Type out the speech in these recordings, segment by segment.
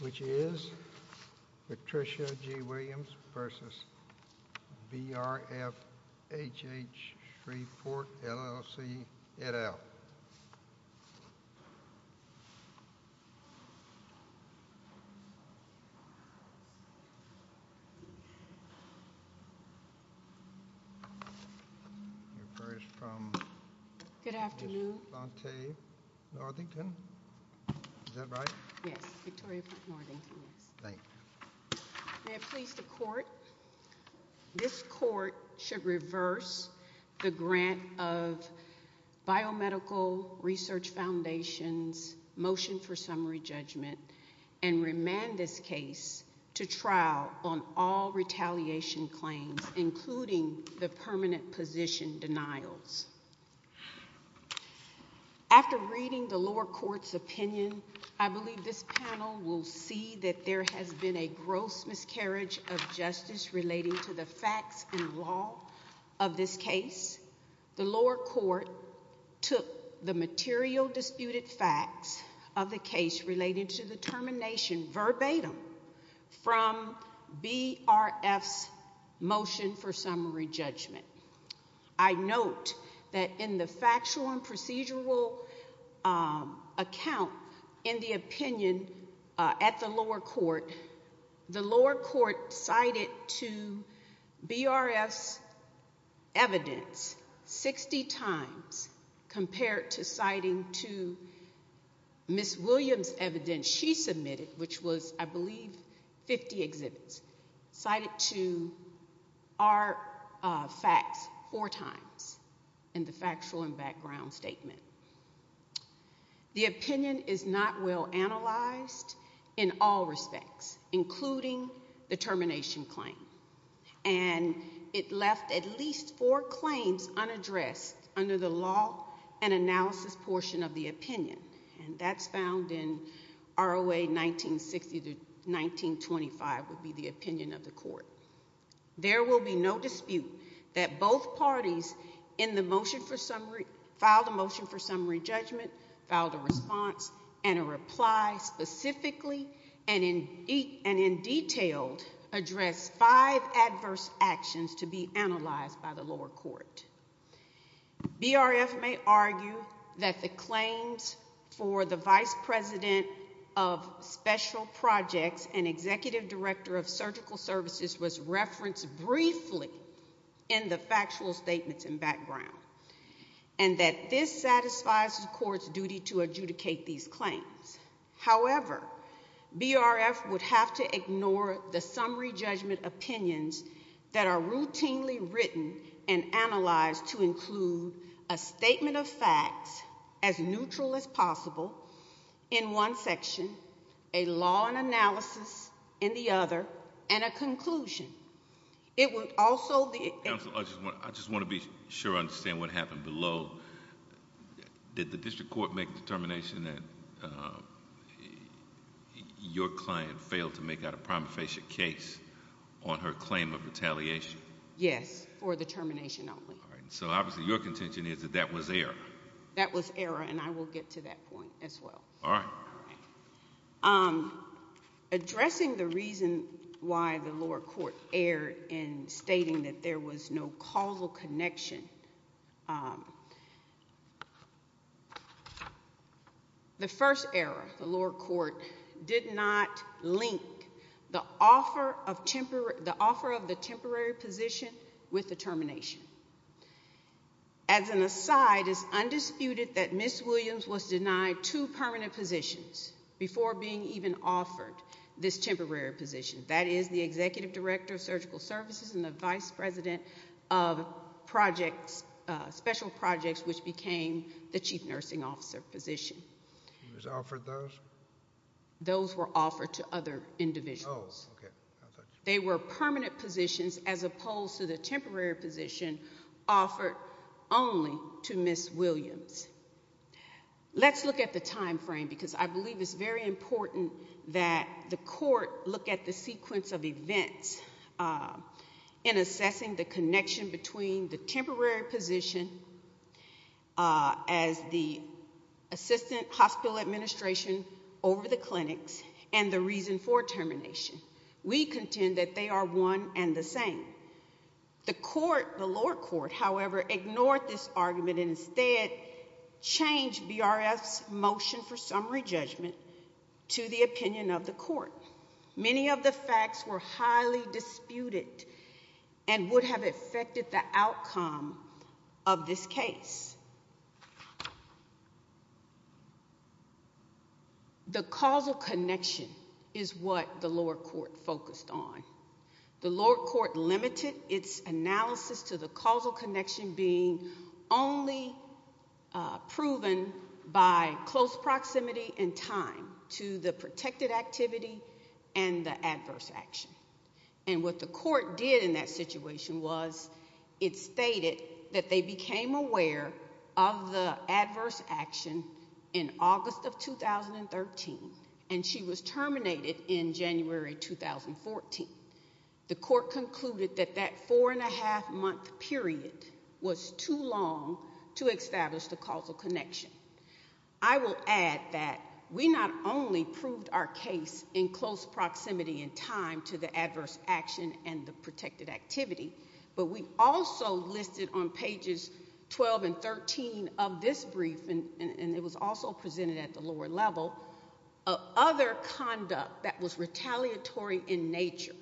Which is Patricia G. Williams v. Brf H.H. Shreveport, LLC, et al. May it please the Court, this Court should reverse the grant of Biomedical Research Foundation's motion for summary judgment and remand this case to trial on all retaliation claims, including the permanent position denials. After reading the lower court's opinion, I believe this panel will see that there has been a gross miscarriage of justice relating to the facts and law of this case. The lower court took the material disputed facts of the case relating to the termination verbatim from Brf's motion for summary judgment. I note that in the factual and procedural account in the opinion at the lower court, the lower court cited to Brf's evidence 60 times compared to citing to Ms. Williams' evidence she submitted, which was, I believe, 50 exhibits, cited to our facts four times in the factual and background statement. The opinion is not well analyzed in all respects, including the termination claim. And it left at least four claims unaddressed under the law and analysis portion of the opinion, and that's found in ROA 1960-1925 would be the opinion of the court. There will be no dispute that both parties in the motion for summary, filed a motion for summary judgment, filed a response, and a reply specifically and in detail addressed five adverse actions to be analyzed by the lower court. Brf may argue that the claims for the vice president of special projects and executive director of surgical services was referenced briefly in the factual statements and background, and that this satisfies the court's duty to adjudicate these claims. However, Brf would have to ignore the summary judgment opinions that are routinely written and analyzed to include a statement of facts as neutral as possible in one section, a law and analysis in the other, and a conclusion. It would also... Counsel, I just want to be sure I understand what happened below. Did the district court make a determination that your client failed to make out a prima facie case on her claim of retaliation? Yes, for the termination only. All right. So obviously your contention is that that was error. That was error, and I will get to that point as well. All right. Addressing the reason why the lower court erred in stating that there was no causal connection, the first error, the lower court did not link the offer of the temporary position with the termination. As an aside, it's undisputed that Ms. Williams was denied two permanent positions before being even offered this temporary position. That is the Executive Director of Surgical Services and the Vice President of Projects... Special Projects, which became the Chief Nursing Officer position. She was offered those? Those were offered to other individuals. Oh, okay. They were permanent positions as opposed to the temporary position offered only to Ms. Williams. Let's look at the time frame because I believe it's very important that the court look at the sequence of events in assessing the connection between the temporary position as the Assistant Hospital Administration over the clinics and the reason for termination. We contend that they are one and the same. The court, the lower court, however, ignored this argument and instead changed BRF's motion for summary judgment to the opinion of the court. Many of the facts were highly disputed and would have affected the outcome of this case. The causal connection is what the lower court focused on. The lower court limited its analysis to the causal connection being only proven by close proximity and time to the protected activity and the adverse action. What the court did in that situation was it stated that they became aware of the adverse action in August of 2013 and she was terminated in January 2014. The court concluded that that four and a half month period was too long to establish the causal connection. I will add that we not only proved our case in close proximity and time to the adverse action and the protected activity, but we also listed on pages 12 and 13 of this brief and it was also presented at the lower level, other conduct that was retaliatory in nature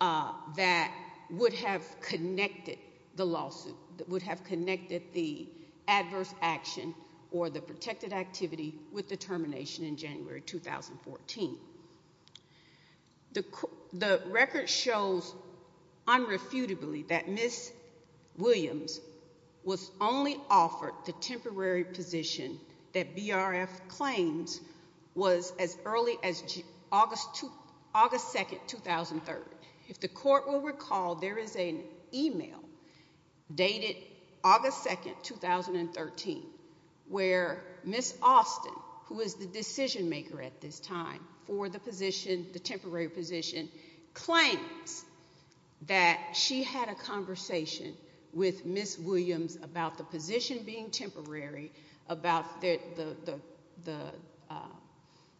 that would have connected the lawsuit, that would have connected the adverse action or the protected activity with the termination in January 2014. The record shows unrefutably that Ms. Williams was only offered the temporary position that the court will recall, there is an email dated August 2nd, 2013, where Ms. Austin, who is the decision maker at this time for the position, the temporary position, claims that she had a conversation with Ms. Williams about the position being temporary, about the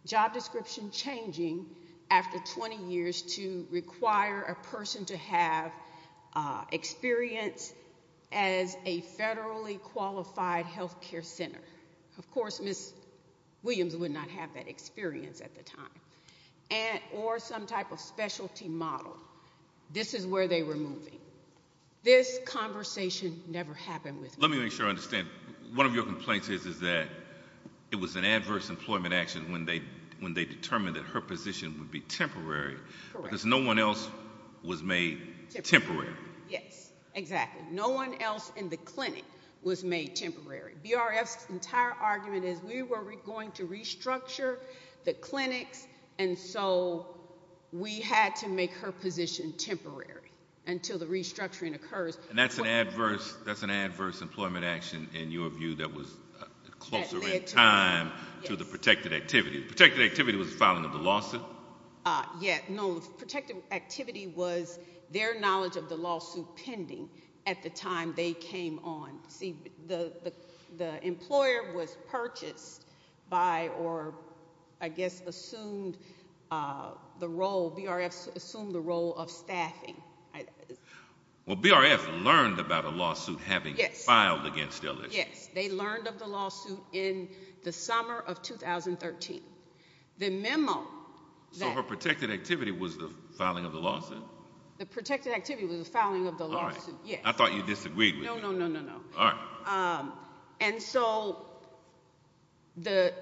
job description changing after 20 years to require a person to have experience as a federally qualified health care center. Of course, Ms. Williams would not have that experience at the time. Or some type of specialty model, this is where they were moving. This conversation never happened with Ms. Williams. Let me make sure I understand, one of your complaints is that it was an adverse employment action when they determined that her position would be temporary because no one else was made temporary. Yes, exactly. No one else in the clinic was made temporary. BRF's entire argument is we were going to restructure the clinics and so we had to make her position temporary until the restructuring occurs. That's an adverse employment action in your view that was closer in time to the protected activity. Protected activity was the filing of the lawsuit? Yes, no, the protected activity was their knowledge of the lawsuit pending at the time they came on. See, the employer was purchased by, or I guess assumed the role, BRF assumed the role of staffing. Well, BRF learned about a lawsuit having filed against LSU. Yes, they learned of the lawsuit in the summer of 2013. The memo that- So her protected activity was the filing of the lawsuit? The protected activity was the filing of the lawsuit, yes. All right, I thought you disagreed with me. No, no, no, no, no. All right. And so the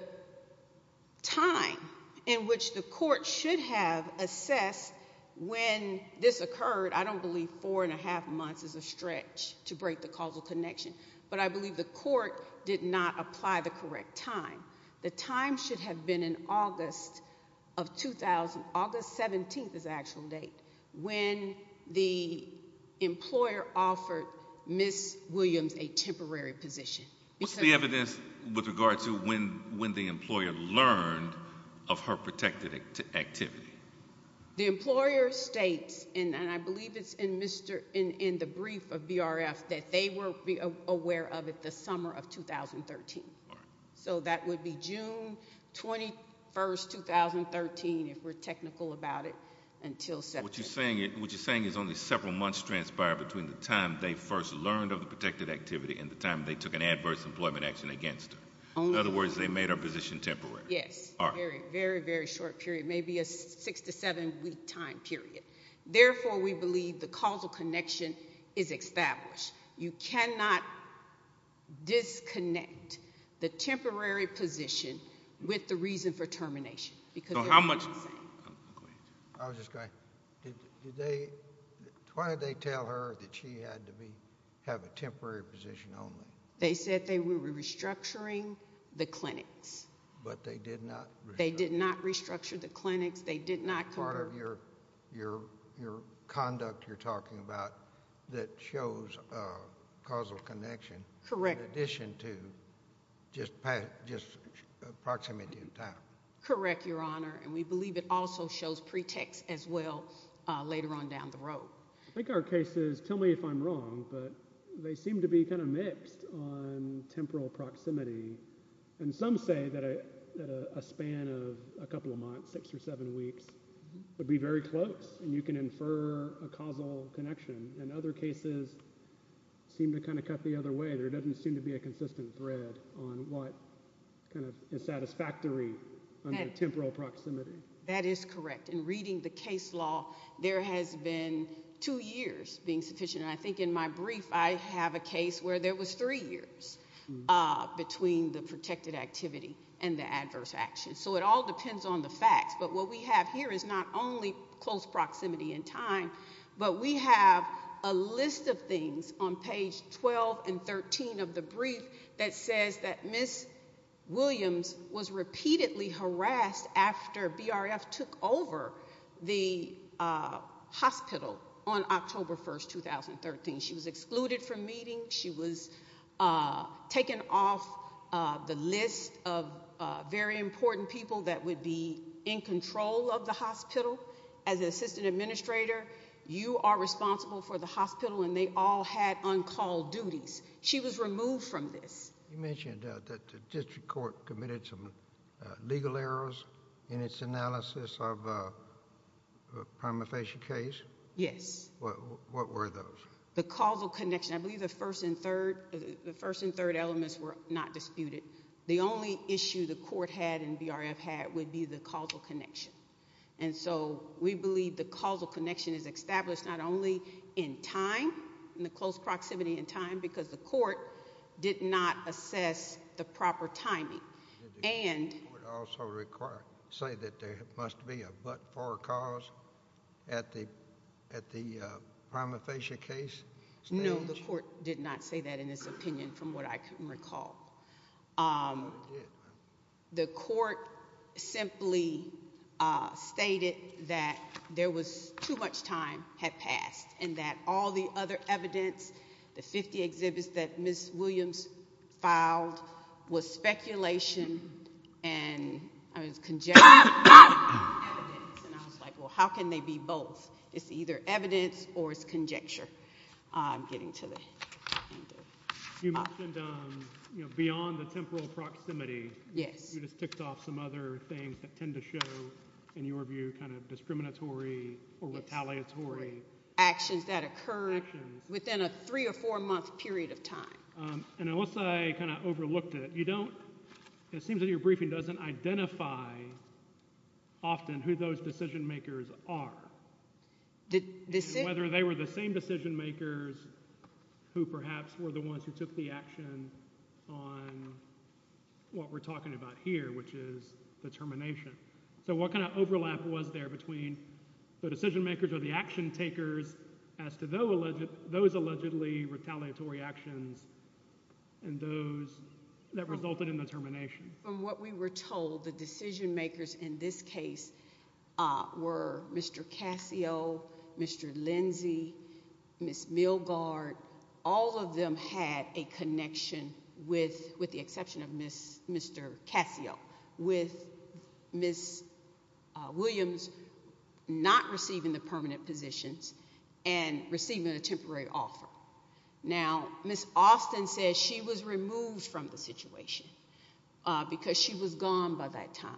time in which the court should have assessed when this occurred, I don't believe four and a half months is a stretch to break the causal connection, but I believe the court did not apply the correct time. The time should have been in August of 2000, August 17th is the actual date, when the employer offered Ms. Williams a temporary position. What's the evidence with regard to when the employer learned of her protected activity? The employer states, and I believe it's in the brief of BRF, that they were aware of it the summer of 2013. So that would be June 21st, 2013, if we're technical about it, until September. What you're saying is only several months transpired between the time they first learned of the protected activity and the time they took an adverse employment action against her. In other words, they made her position temporary. Yes. All right. Very, very short period, maybe a six to seven week time period. Therefore, we believe the causal connection is established. You cannot disconnect the temporary position with the reason for termination, because they're not the same. I was just going to, did they, why did they tell her that she had to be, have a temporary position only? They said they were restructuring the clinics. But they did not? They did not restructure the clinics. They did not cover? Part of your conduct you're talking about that shows a causal connection. Correct. In addition to just proximity and time. Correct, Your Honor, and we believe it also shows pretext as well later on down the road. I think our case is, tell me if I'm wrong, but they seem to be kind of mixed on temporal proximity. And some say that a span of a couple of months, six or seven weeks, would be very close and you can infer a causal connection. And other cases seem to kind of cut the other way. There doesn't seem to be a consistent thread on what kind of is satisfactory under temporal proximity. That is correct. In reading the case law, there has been two years being sufficient. And I think in my brief, I have a case where there was three years between the protected activity and the adverse action. So it all depends on the facts. But what we have here is not only close proximity and time, but we have a list of things on page 12 and 13 of the brief that says that Ms. Williams was repeatedly harassed after BRF took over the hospital on October 1, 2013. She was excluded from meetings. She was taken off the list of very important people that would be in control of the hospital. As an assistant administrator, you are responsible for the hospital and they all had uncalled duties. She was removed from this. You mentioned that the district court committed some legal errors in its analysis of a prima facie case. Yes. What were those? The causal connection. I believe the first and third elements were not disputed. The only issue the court had and BRF had would be the causal connection. And so we believe the causal connection is established not only in time, in the close proximity, but in the fact that Ms. Williams was not in a position to assess the proper timing. Did the court also say that there must be a but-for cause at the prima facie case? No, the court did not say that in its opinion, from what I can recall. The court simply stated that there was too much time had passed and that all the other evidence that was filed was speculation and it was conjecture. And I was like, well, how can they be both? It's either evidence or it's conjecture. I'm getting to the end of it. You mentioned, you know, beyond the temporal proximity. Yes. You just ticked off some other things that tend to show, in your view, kind of discriminatory And unless I kind of overlooked it, you don't, it seems that your briefing doesn't identify often who those decision makers are. Whether they were the same decision makers who perhaps were the ones who took the action on what we're talking about here, which is the termination. So what kind of overlap was there between the decision makers or the action takers as to those allegedly retaliatory actions and those that resulted in the termination? From what we were told, the decision makers in this case were Mr. Cassio, Mr. Lindsay, Ms. Milgaard. All of them had a connection, with the exception of Mr. Cassio, with Ms. Williams not receiving the permanent positions and receiving a temporary offer. Now, Ms. Austin says she was removed from the situation because she was gone by that time.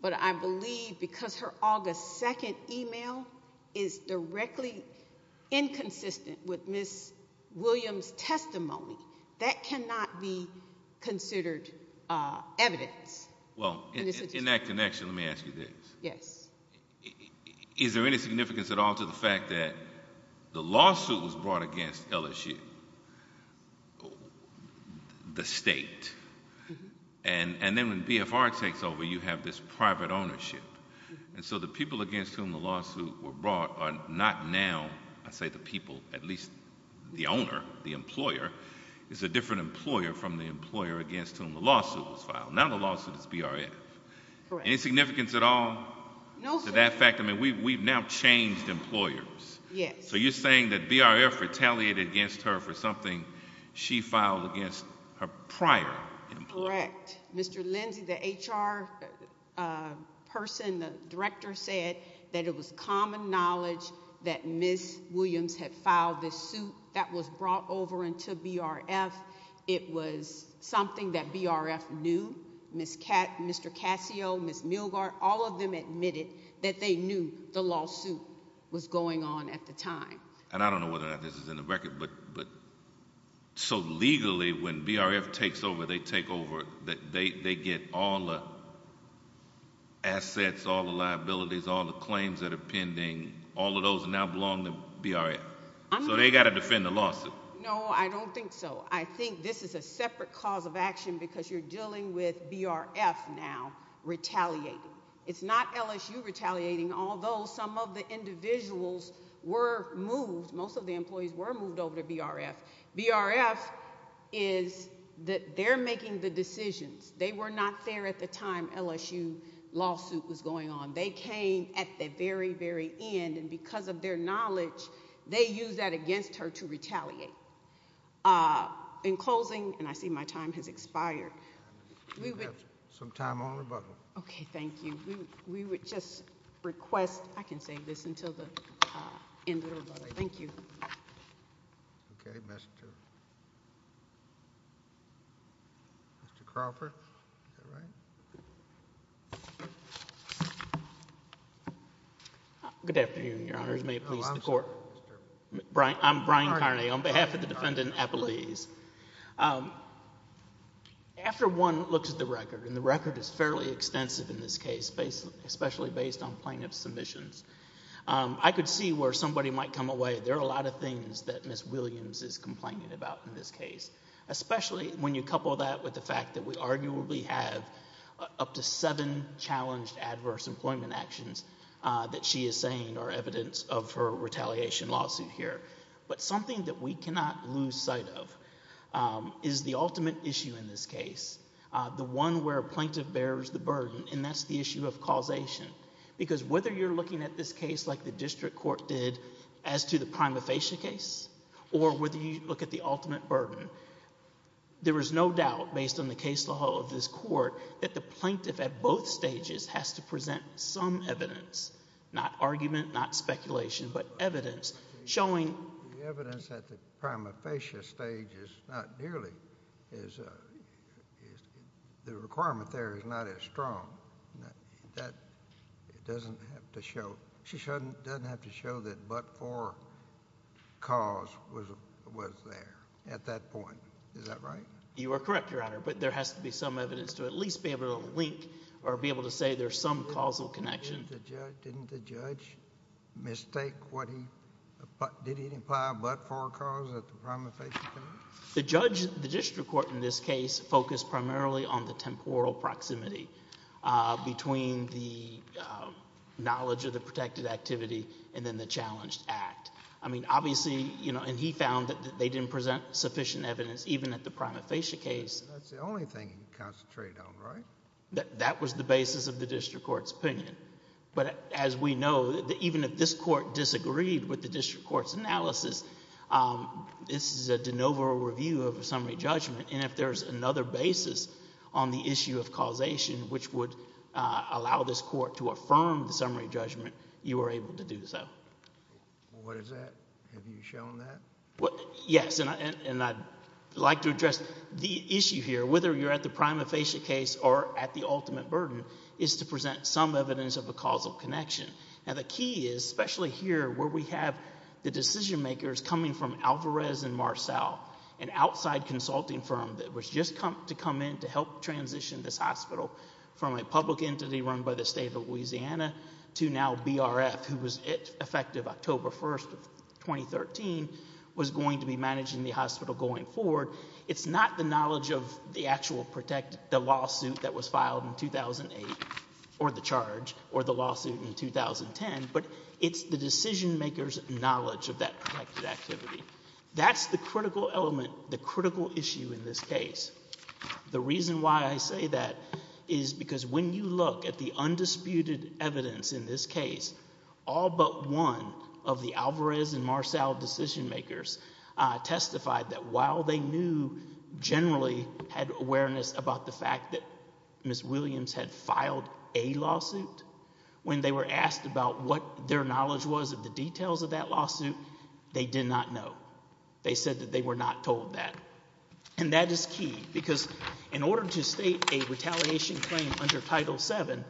But I believe because her August 2nd email is directly inconsistent with Ms. Williams' testimony, that cannot be considered evidence. Well, in that connection, let me ask you this. Yes. Is there any significance at all to the fact that the lawsuit was brought against LSU, the state, and then when BFR takes over, you have this private ownership. And so the people against whom the lawsuit were brought are not now, I say the people, at least the owner, the employer, is a different employer from the employer against whom the lawsuit was filed. Now the lawsuit is BRF. Correct. Any significance at all? No, sir. To that fact? I mean, we've now changed employers. Yes. So you're saying that BRF retaliated against her for something she filed against her prior employer. Correct. Mr. Lindsey, the HR person, the director, said that it was common knowledge that Ms. Williams had filed this suit that was brought over into BRF. It was something that BRF knew. Mr. Cassio, Ms. Milgaard, all of them admitted that they knew the lawsuit was going on at the time. And I don't know whether or not this is in the record, but so legally when BRF takes over, they take over, they get all the assets, all the liabilities, all the claims that are pending, all of those now belong to BRF. So they've got to defend the lawsuit. No, I don't think so. I think this is a separate cause of action because you're dealing with BRF now retaliating. It's not LSU retaliating, although some of the individuals were moved, most of the employees were moved over to BRF. BRF is that they're making the decisions. They were not there at the time LSU lawsuit was going on. They came at the very, very end, and because of their knowledge, they used that against her to retaliate. In closing, and I see my time has expired, we would... You have some time on rebuttal. Okay, thank you. We would just request... I can save this until the end of rebuttal. Thank you. Okay. Mr. Crawford. Is that right? Good afternoon, Your Honors. Oh, I'm sorry, Mr.... I'm Brian Crawford. I'm Brian Carney on behalf of the Defendant Appellees. After one looks at the record, and the record is fairly extensive in this case, especially based on plaintiff's submissions, I could see where somebody might come away. There are a lot of things that Ms. Williams is complaining about in this case, especially when you couple that with the fact that we arguably have up to seven challenged adverse employment actions that she is saying are evidence of her retaliation lawsuit here. But something that we cannot lose sight of is the ultimate issue in this case, the one where a plaintiff bears the burden, and that's the issue of causation. Because whether you're looking at this case like the district court did as to the prima facie case, or whether you look at the ultimate burden, there is no doubt based on the case law of this court that the plaintiff at both stages has to present some evidence, not argument, not speculation, but evidence showing... The evidence at the prima facie stage is not nearly as... the requirement there is not as strong. That doesn't have to show... she doesn't have to show that but-for cause was there at that point. Is that right? You are correct, Your Honor, but there has to be some evidence to at least be able to link or be able to say there's some causal connection. Didn't the judge mistake what he... did he imply a but-for cause at the prima facie case? The judge... the district court in this case focused primarily on the temporal proximity between the knowledge of the protected activity and then the challenged act. I mean, obviously... and he found that they didn't present sufficient evidence even at the prima facie case. That's the only thing he concentrated on, right? That was the basis of the district court's opinion, but as we know, even if this court disagreed with the district court's analysis, this is a de novo review of a summary judgment and if there's another basis on the issue of causation which would allow this court to affirm the summary judgment, you are able to do so. What is that? Have you shown that? Yes, and I'd like to address the issue here. Whether you're at the prima facie case or at the ultimate burden is to present some evidence of a causal connection. The key is, especially here where we have the decision makers coming from Alvarez and Marcel, an outside consulting firm that was just to come in to help transition this hospital from a public entity run by the state of Louisiana to now BRF, who was effective October 1st of 2013, was going to be managing the hospital going forward. It's not the knowledge of the actual lawsuit that was filed in 2008, or the charge, or the lawsuit in 2010, but it's the decision makers' knowledge of that protected activity. That's the critical element, the critical issue in this case. The reason why I say that is because when you look at the undisputed evidence in this case, all but one of the Alvarez and Marcel decision makers testified that while they knew, generally had awareness about the fact that Ms. Williams had filed a lawsuit, when they were asked about what their knowledge was of the details of that lawsuit, they did not know. They said that they were not told that. And that is key, because in order to state a retaliation claim under Title VII,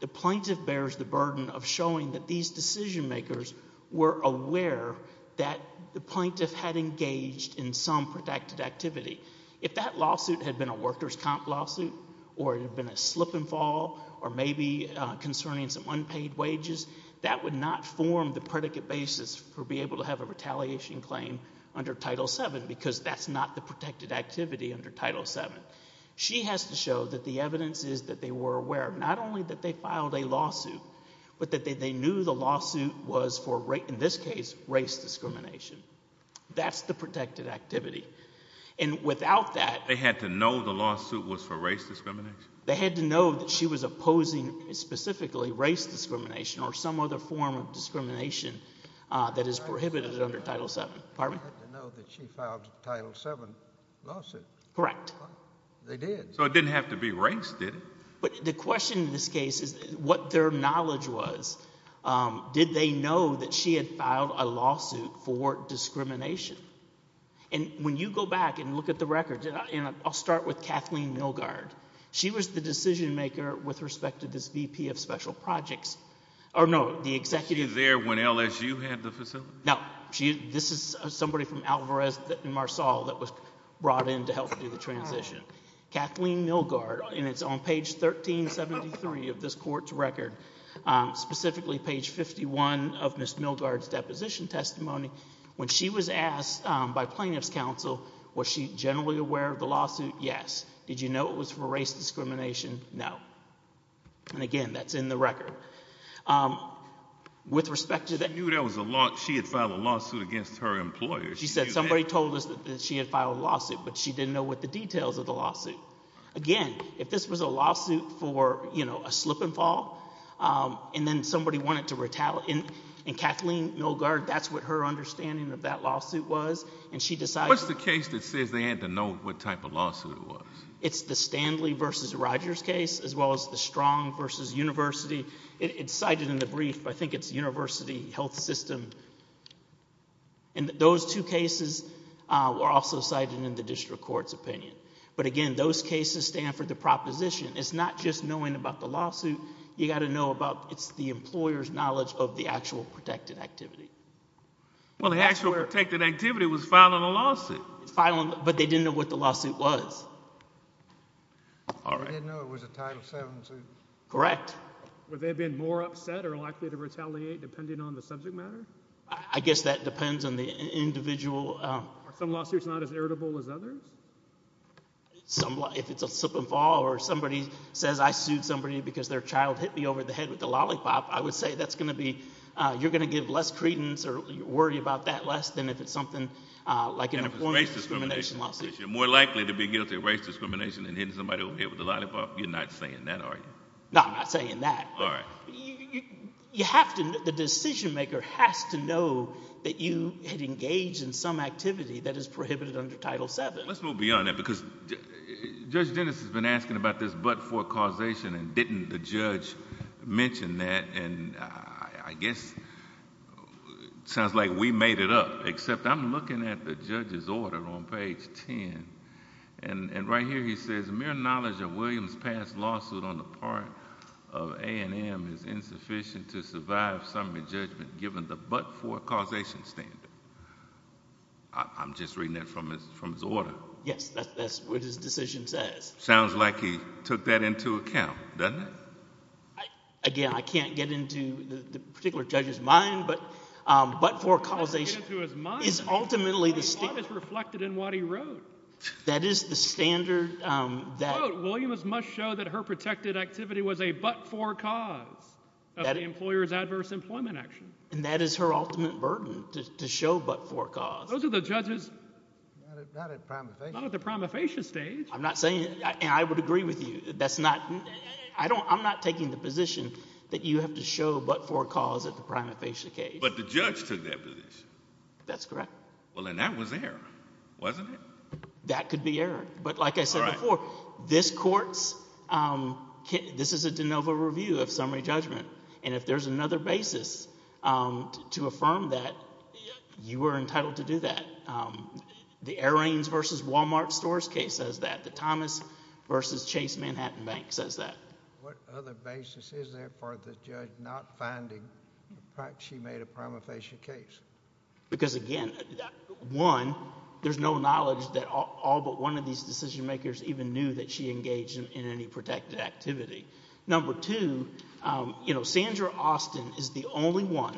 the plaintiff bears the burden of showing that these decision makers were aware that the plaintiff had engaged in some protected activity. If that lawsuit had been a workers' comp lawsuit, or it had been a slip and fall, or maybe concerning some unpaid wages, that would not form the predicate basis for being able to have a retaliation claim under Title VII, because that's not the protected activity under Title VII. She has to show that the evidence is that they were aware, not only that they filed a lawsuit, but that they knew the lawsuit was for, in this case, race discrimination. That's the protected activity. And without that... They had to know the lawsuit was for race discrimination? They had to know that she was opposing, specifically, race discrimination, or some other form of discrimination that is prohibited under Title VII. Pardon me? They had to know that she filed a Title VII lawsuit. Correct. They did. So it didn't have to be race, did it? But the question in this case is what their knowledge was. Did they know that she had filed a lawsuit for discrimination? And when you go back and look at the records, and I'll start with Kathleen Milgaard. She was the decision-maker with respect to this VP of Special Projects. Or no, the executive... She was there when LSU had the facility? No. This is somebody from Alvarez and Marsall that was brought in to help do the transition. Kathleen Milgaard, and it's on page 1373 of this court's record. Specifically, page 51 of Ms. Milgaard's deposition testimony. When she was asked by plaintiff's counsel, was she generally aware of the lawsuit? Yes. Did you know it was for race discrimination? No. And again, that's in the record. With respect to that... She knew she had filed a lawsuit against her employer. She knew that. Somebody told us that she had filed a lawsuit, but she didn't know what the details of the lawsuit. Again, if this was a lawsuit for a slip and fall, and then somebody wanted to retaliate... And Kathleen Milgaard, that's what her understanding of that lawsuit was. And she decided... What's the case that says they had to know what type of lawsuit it was? It's the Stanley v. Rogers case, as well as the Strong v. University. It's cited in the brief, but I think it's University Health System. And those two cases were also cited in the district court's opinion. But again, those cases stand for the proposition. It's not just knowing about the lawsuit. You've got to know about... It's the employer's knowledge of the actual protected activity. Well, the actual protected activity was filing a lawsuit. Filing... But they didn't know what the lawsuit was. All right. They didn't know it was a Title VII suit. Correct. Would they have been more upset or likely to retaliate, depending on the subject matter? I guess that depends on the individual... Are some lawsuits not as irritable as others? Some... If it's a slip and fall, or somebody says, I sued somebody because their child hit me over the head with a lollipop, I would say that's going to be... You're going to give less credence or worry about that less than if it's something like... And if it's race discrimination, you're more likely to be guilty of race discrimination than hitting somebody over the head with a lollipop. You're not saying that, are you? No, I'm not saying that. All right. You have to... The decision maker has to know that you had engaged in some activity that is prohibited under Title VII. Let's move beyond that, because Judge Dennis has been asking about this but-for causation, and didn't the judge mention that? And I guess it sounds like we made it up, except I'm looking at the judge's order on page 10, and right here he says, His mere knowledge of Williams' past lawsuit on the part of A&M is insufficient to survive summary judgment given the but-for causation standard. I'm just reading that from his order. Yes, that's what his decision says. Sounds like he took that into account, doesn't it? Again, I can't get into the particular judge's mind, but but-for causation is ultimately the standard. That's reflected in what he wrote. That is the standard that... Williams must show that her protected activity was a but-for cause of the employer's adverse employment action. And that is her ultimate burden, to show but-for cause. Those are the judge's... Not at the prima facie stage. I'm not saying... And I would agree with you. I'm not taking the position that you have to show but-for cause at the prima facie stage. But the judge took that position. That's correct. Well, and that was there, wasn't it? That could be error. But like I said before, this court's... This is a de novo review of summary judgment. And if there's another basis to affirm that, you are entitled to do that. The Aireens v. Wal-Mart stores case says that. The Thomas v. Chase Manhattan Bank says that. What other basis is there for the judge not finding the fact she made a prima facie case? Because, again, one, there's no knowledge that all but one of these decision-makers even knew that she engaged in any protected activity. Number two, you know, Sandra Austin is the only one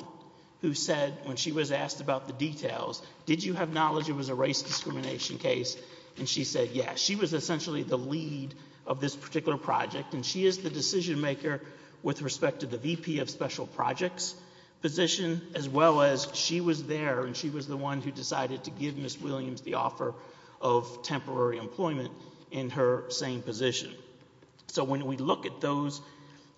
who said, when she was asked about the details, did you have knowledge it was a race discrimination case? And she said, yeah. She was essentially the lead of this particular project. And she is the decision-maker with respect to the VP of Special Projects position, as well as she was there, and she was the one who decided to give Ms. Williams the offer of temporary employment in her same position. So when we look at those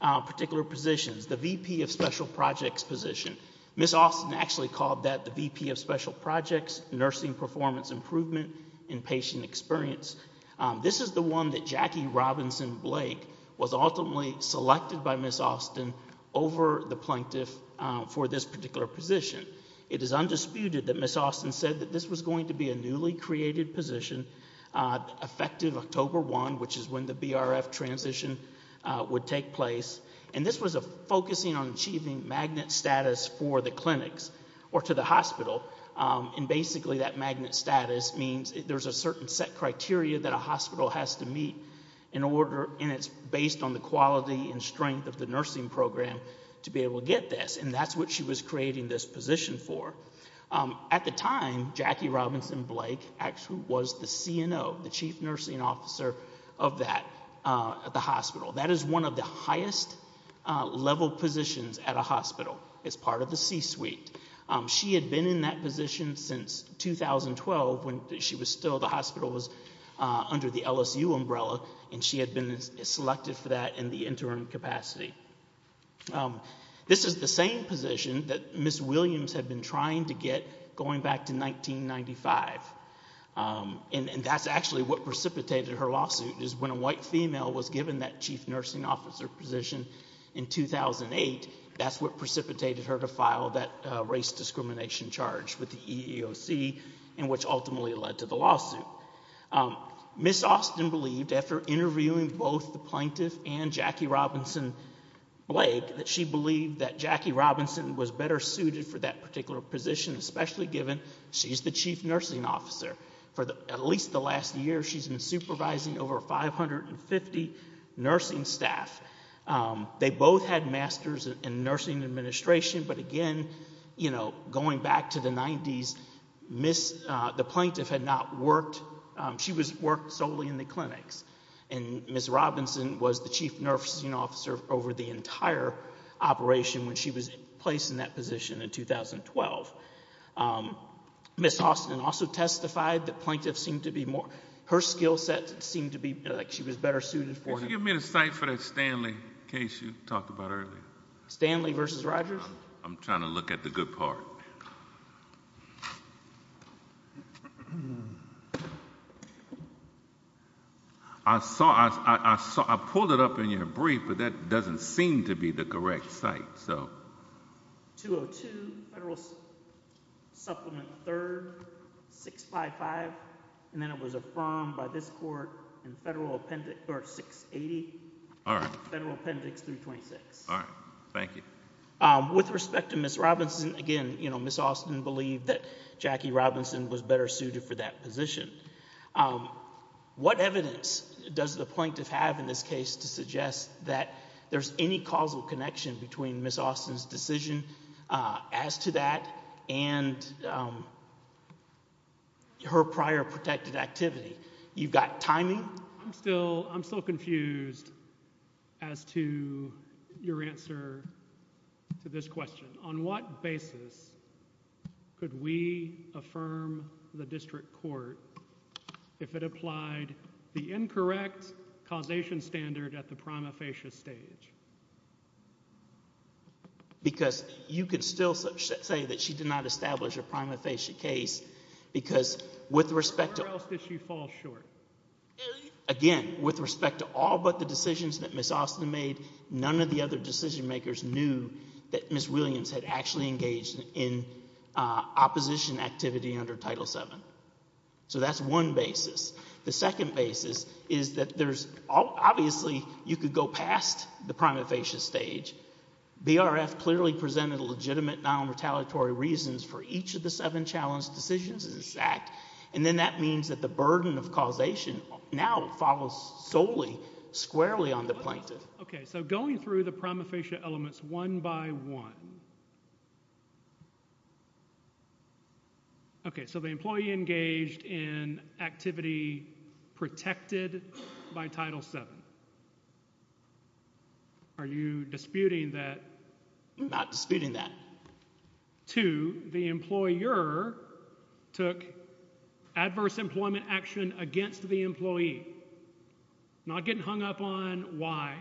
particular positions, the VP of Special Projects position, Ms. Austin actually called that the VP of Special Projects, Nursing Performance Improvement, and Patient Experience. This is the one that Jackie Robinson Blake was ultimately selected by Ms. Austin over the plaintiff for this particular position. It is undisputed that Ms. Austin said that this was going to be a newly created position, effective October 1, which is when the BRF transition would take place, and this was a focusing on achieving magnet status for the clinics, or to the hospital, and basically that magnet status means there's a certain set criteria that a hospital has to meet in order, and it's based on the quality and strength of the nursing program to be able to get this, and that's what she was creating this position for. At the time, Jackie Robinson Blake actually was the CNO, the Chief Nursing Officer of that, of the hospital. That is one of the highest level positions at a hospital as part of the C-suite. She had been in that position since 2012 when she was still, the hospital was under the LSU umbrella, and she had been selected for that in the interim capacity. This is the same position that Ms. Williams had been trying to get going back to 1995, and that's actually what precipitated her lawsuit, is when a white female was given that Chief Nursing Officer position in 2008, that's what precipitated her to file that race discrimination charge with the EEOC, and which ultimately led to the lawsuit. Ms. Austin believed after interviewing both the plaintiff and Jackie Robinson Blake that she believed that Jackie Robinson was better suited for that particular position, especially given she's the Chief Nursing Officer. For at least the last year, she's been supervising over 550 nursing staff. They both had Masters in Nursing Administration, but again, you know, going back to the 90s, the plaintiff had not worked, she worked solely in the clinics, and Ms. Robinson was the Chief Nursing Officer over the entire operation when she was placed in that position in 2012. Ms. Austin also testified that plaintiff seemed to be more, her skill set seemed to be, like, she was better suited for it. Can you give me the site for that Stanley case you talked about earlier? Stanley versus Rogers? I'm trying to look at the good part. I pulled it up in your brief, but that doesn't seem to be the correct site. 202 Federal Supplement 3rd 655 and then it was affirmed by this court in Federal Appendix 680. Federal Appendix 326. With respect to Ms. Robinson, again, Ms. Austin believed that Jackie Robinson was better suited for that position. What evidence does the plaintiff have in this case to suggest that there's any causal connection between Ms. Austin's decision as to that and her prior protected activity? You've got timing? I'm still confused as to your answer to this question. On what basis could we affirm the district court if it applied the incorrect causation standard at the prima facie stage? Because you could still say that she did not establish a prima facie case because with respect to... Where else did she fall short? Again, with respect to all but the decisions that Ms. Austin made, none of the other decision makers knew that Ms. Williams had actually engaged in opposition activity under Title VII. So that's one basis. The second basis is that there's obviously you could go past the prima facie stage. BRF clearly presented legitimate non-retaliatory reasons for each of the seven challenged decisions in this act and then that means that the burden of causation now follows solely squarely on the plaintiff. Okay, so going through the prima facie elements one by one. Okay, so the employee engaged in activity protected by Title VII. Are you disputing that? I'm not disputing that. Two, the employer took adverse employment action against the employee. Not getting hung up on why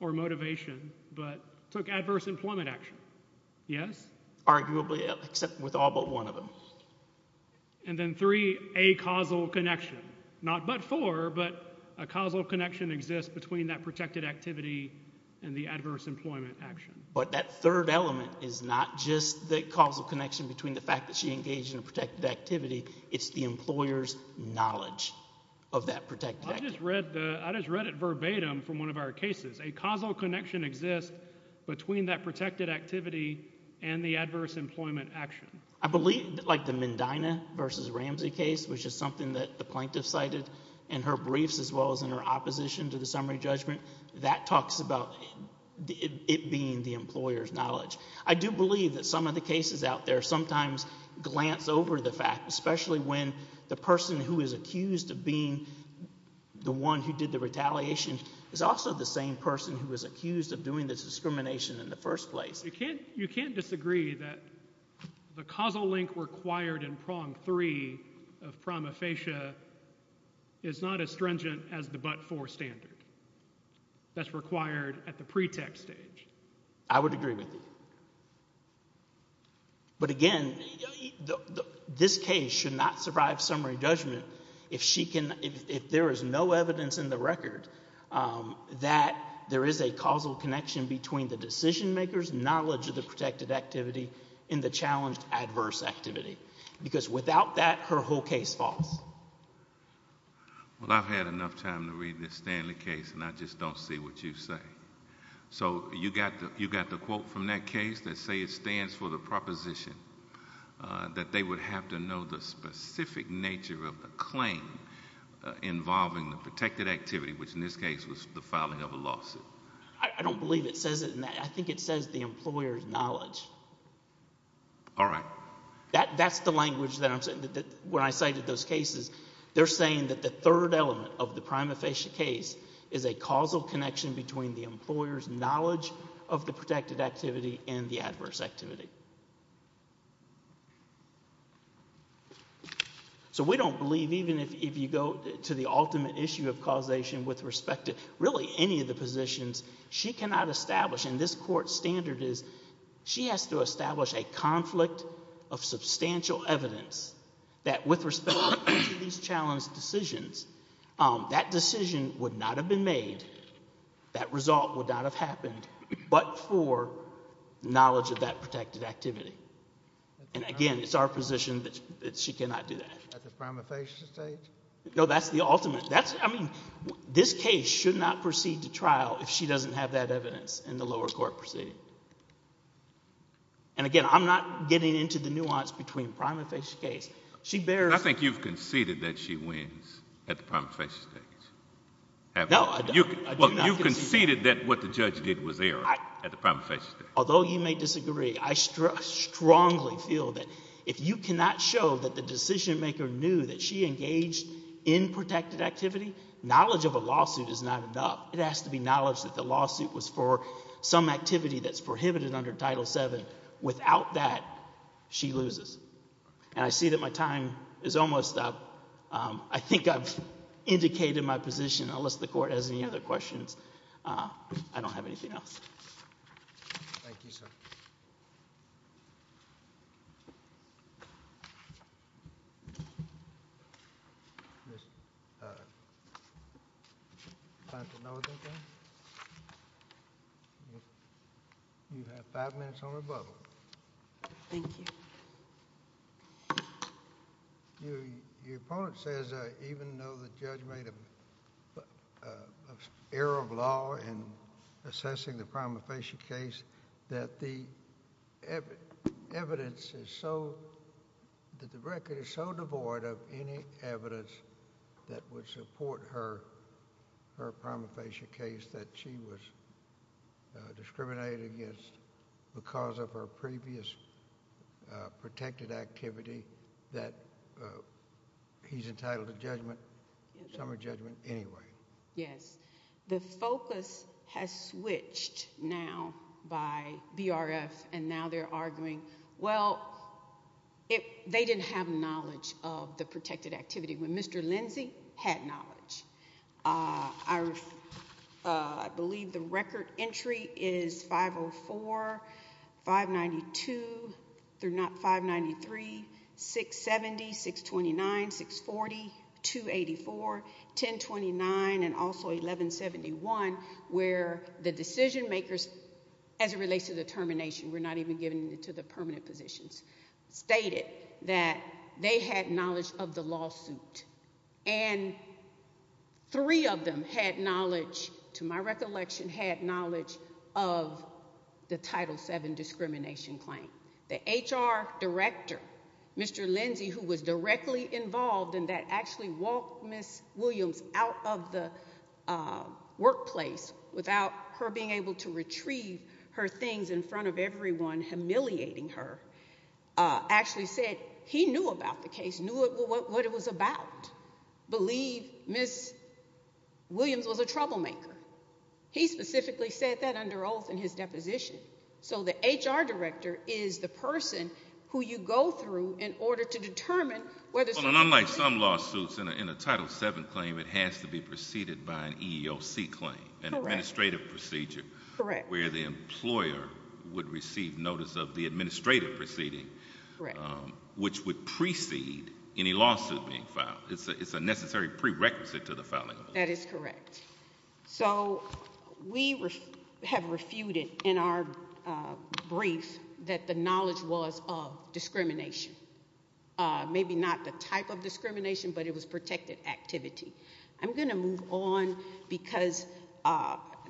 or motivation, but took adverse employment action. Yes? Arguably except with all but one of them. And then three, a causal connection. Not but four but a causal connection exists between that protected activity and the adverse employment action. But that third element is not just the causal connection between the fact that she engaged in a protected activity, it's the employer's knowledge of that protected activity. I just read it verbatim from one of our cases. A causal connection exists between that protected activity and the adverse employment action. I believe, like the Mendina versus Ramsey case, which is something that the plaintiff cited in her briefs as well as in her opposition to the summary judgment, that talks about it being the employer's knowledge. I do believe that some of the cases out there sometimes glance over the fact, especially when the person who is accused of being the one who did the retaliation is also the same person who was accused of doing the discrimination in the first place. You can't disagree that the causal link required in prong three of prima facie is not as stringent as the but four standard that's required at the pretext stage. I would agree with you. But again, this case should not survive summary judgment if she can if there is no evidence in the case that there is a causal connection between the decision maker's knowledge of the protected activity and the challenged adverse activity. Because without that, her whole case falls. Well, I've had enough time to read this Stanley case and I just don't see what you say. So, you got the quote from that case that says it stands for the proposition that they would have to know the specific nature of the claim involving the protected activity, which in this case was the filing of a lawsuit. I don't believe it says it in that. I think it says the employer's knowledge. Alright. That's the language that I'm saying when I cited those cases. They're saying that the third element of the prima facie case is a causal connection between the employer's knowledge of the protected activity and the adverse activity. So, we don't believe even if you go to the ultimate issue of causation with respect to really any of the positions, she cannot establish and this court standard is she has to establish a conflict of substantial evidence that with respect to these challenged decisions that decision would not have been made that result would not have happened, but for knowledge of that protected activity. And again, it's our position that she cannot do that. At the prima facie stage? No, that's the ultimate. This case should not proceed to trial if she doesn't have that evidence in the lower court proceeding. And again, I'm not getting into the nuance between prima facie case. I think you've conceded that she wins at the prima facie stage. You've conceded that what the judge did was error at the prima facie stage. Although you may disagree, I strongly feel that if you cannot show that the decision maker knew that she engaged in protected activity, knowledge of a lawsuit is not enough. It has to be knowledge that the lawsuit was for some activity that's prohibited under Title 7. Without that, she loses. And I see that my time is almost up. I think I've indicated my position, unless the court has any other questions. I don't have anything else. Thank you. You have five minutes on the bubble. Thank you. Your opponent says even though the judge made an error of law in assessing the prima facie case, that the evidence is so devoid of any evidence that would support her prima facie case that she was discriminated against because of her previous protected activity that he's entitled to some judgment anyway. Yes. The focus has switched now by BRF and now they're arguing they didn't have knowledge of the protected activity when Mr. Lindsey had knowledge. I believe the record entry is 504, 592, 593, 670, 629, 640, 284, 1029, and also 1171 where the decision makers as it relates to the termination were not even given to the permanent positions stated that they had knowledge of the lawsuit and three of them had knowledge to my recollection had knowledge of the Title VII discrimination claim. The HR Director Mr. Lindsey who was directly involved in that actually walked Ms. Williams out of the workplace without her being able to retrieve her things in front of everyone humiliating her actually said he knew about the case, knew what it was about believed Ms. Williams was a troublemaker. He specifically said that under oath in his deposition so the HR Director is the person who you go through in order to determine whether... Unlike some lawsuits in a Title VII claim it has to be an O.C. claim, an administrative procedure where the employer would receive notice of the administrative proceeding which would precede any lawsuit being filed. It's a necessary prerequisite to the filing. That is correct. So we have refuted in our brief that the knowledge was of discrimination maybe not the type of discrimination but it was protected activity. I'm going to move on because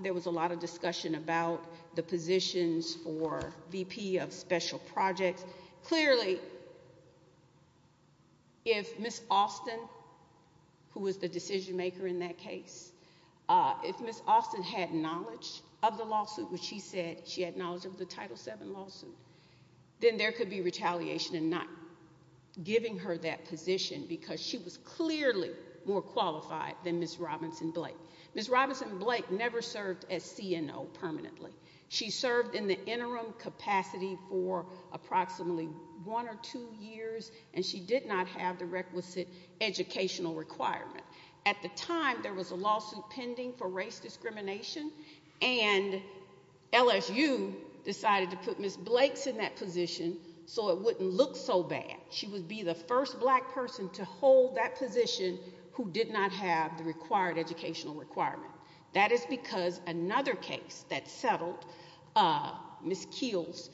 there was a lot of discussion about the positions for VP of special projects. Clearly if Ms. Austin who was the decision maker in that case, if Ms. Austin had knowledge of the lawsuit which she said she had knowledge of the Title VII lawsuit, then there could be retaliation in not giving her that position because she was clearly more qualified than Ms. Robinson-Blake. Ms. Robinson-Blake never served as CNO permanently. She served in the interim capacity for approximately one or two years and she did not have the requisite educational requirement. At the time there was a lawsuit pending for race discrimination and LSU decided to put Ms. Blakes in that position so it wouldn't look so bad. She would be the first black person to hold that position who did not have the required educational requirement. That is because another case that settled Ms. Keels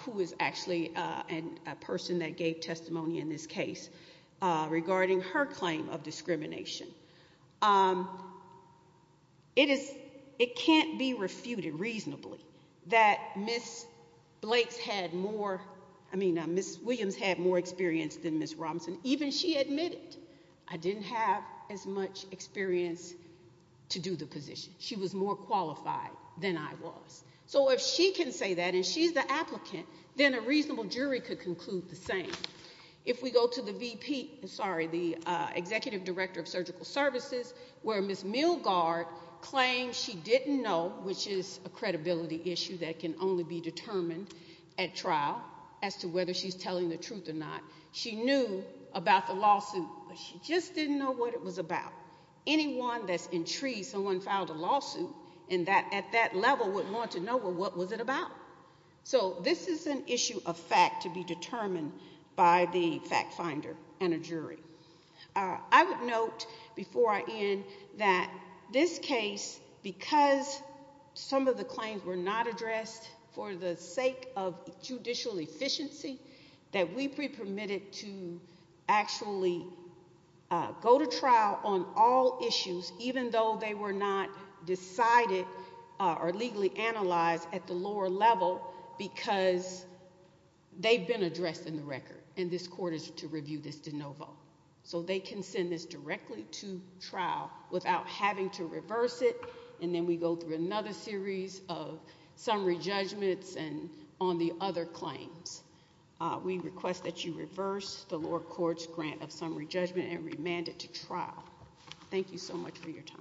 who is actually a person that gave testimony in this case regarding her claim of discrimination. It can't be refuted reasonably that Ms. Blakes had more Ms. Williams had more experience than Ms. Robinson. Even she admitted, I didn't have as much experience to do the position. She was more qualified than I was. If she can say that and she's the applicant then a reasonable jury could conclude the same. If we go to the executive director of surgical services where Ms. Milgaard claims she didn't know, which is a credibility issue that can only be as to whether she's telling the truth or not she knew about the lawsuit but she just didn't know what it was about. Anyone that's intrigued someone filed a lawsuit at that level wouldn't want to know what was it about. So this is an issue of fact to be determined by the fact finder and a jury. I would note before I end that this case because some of the claims were not addressed for the proficiency that we pre-permitted to actually go to trial on all issues even though they were not decided or legally analyzed at the lower level because they've been addressed in the record and this court is to review this de novo. So they can send this directly to trial without having to reverse it and then we go through another series of summary judgments on the other claims. We request that you reverse the lower court's grant of summary judgment and remand it to trial. Thank you so much for your time.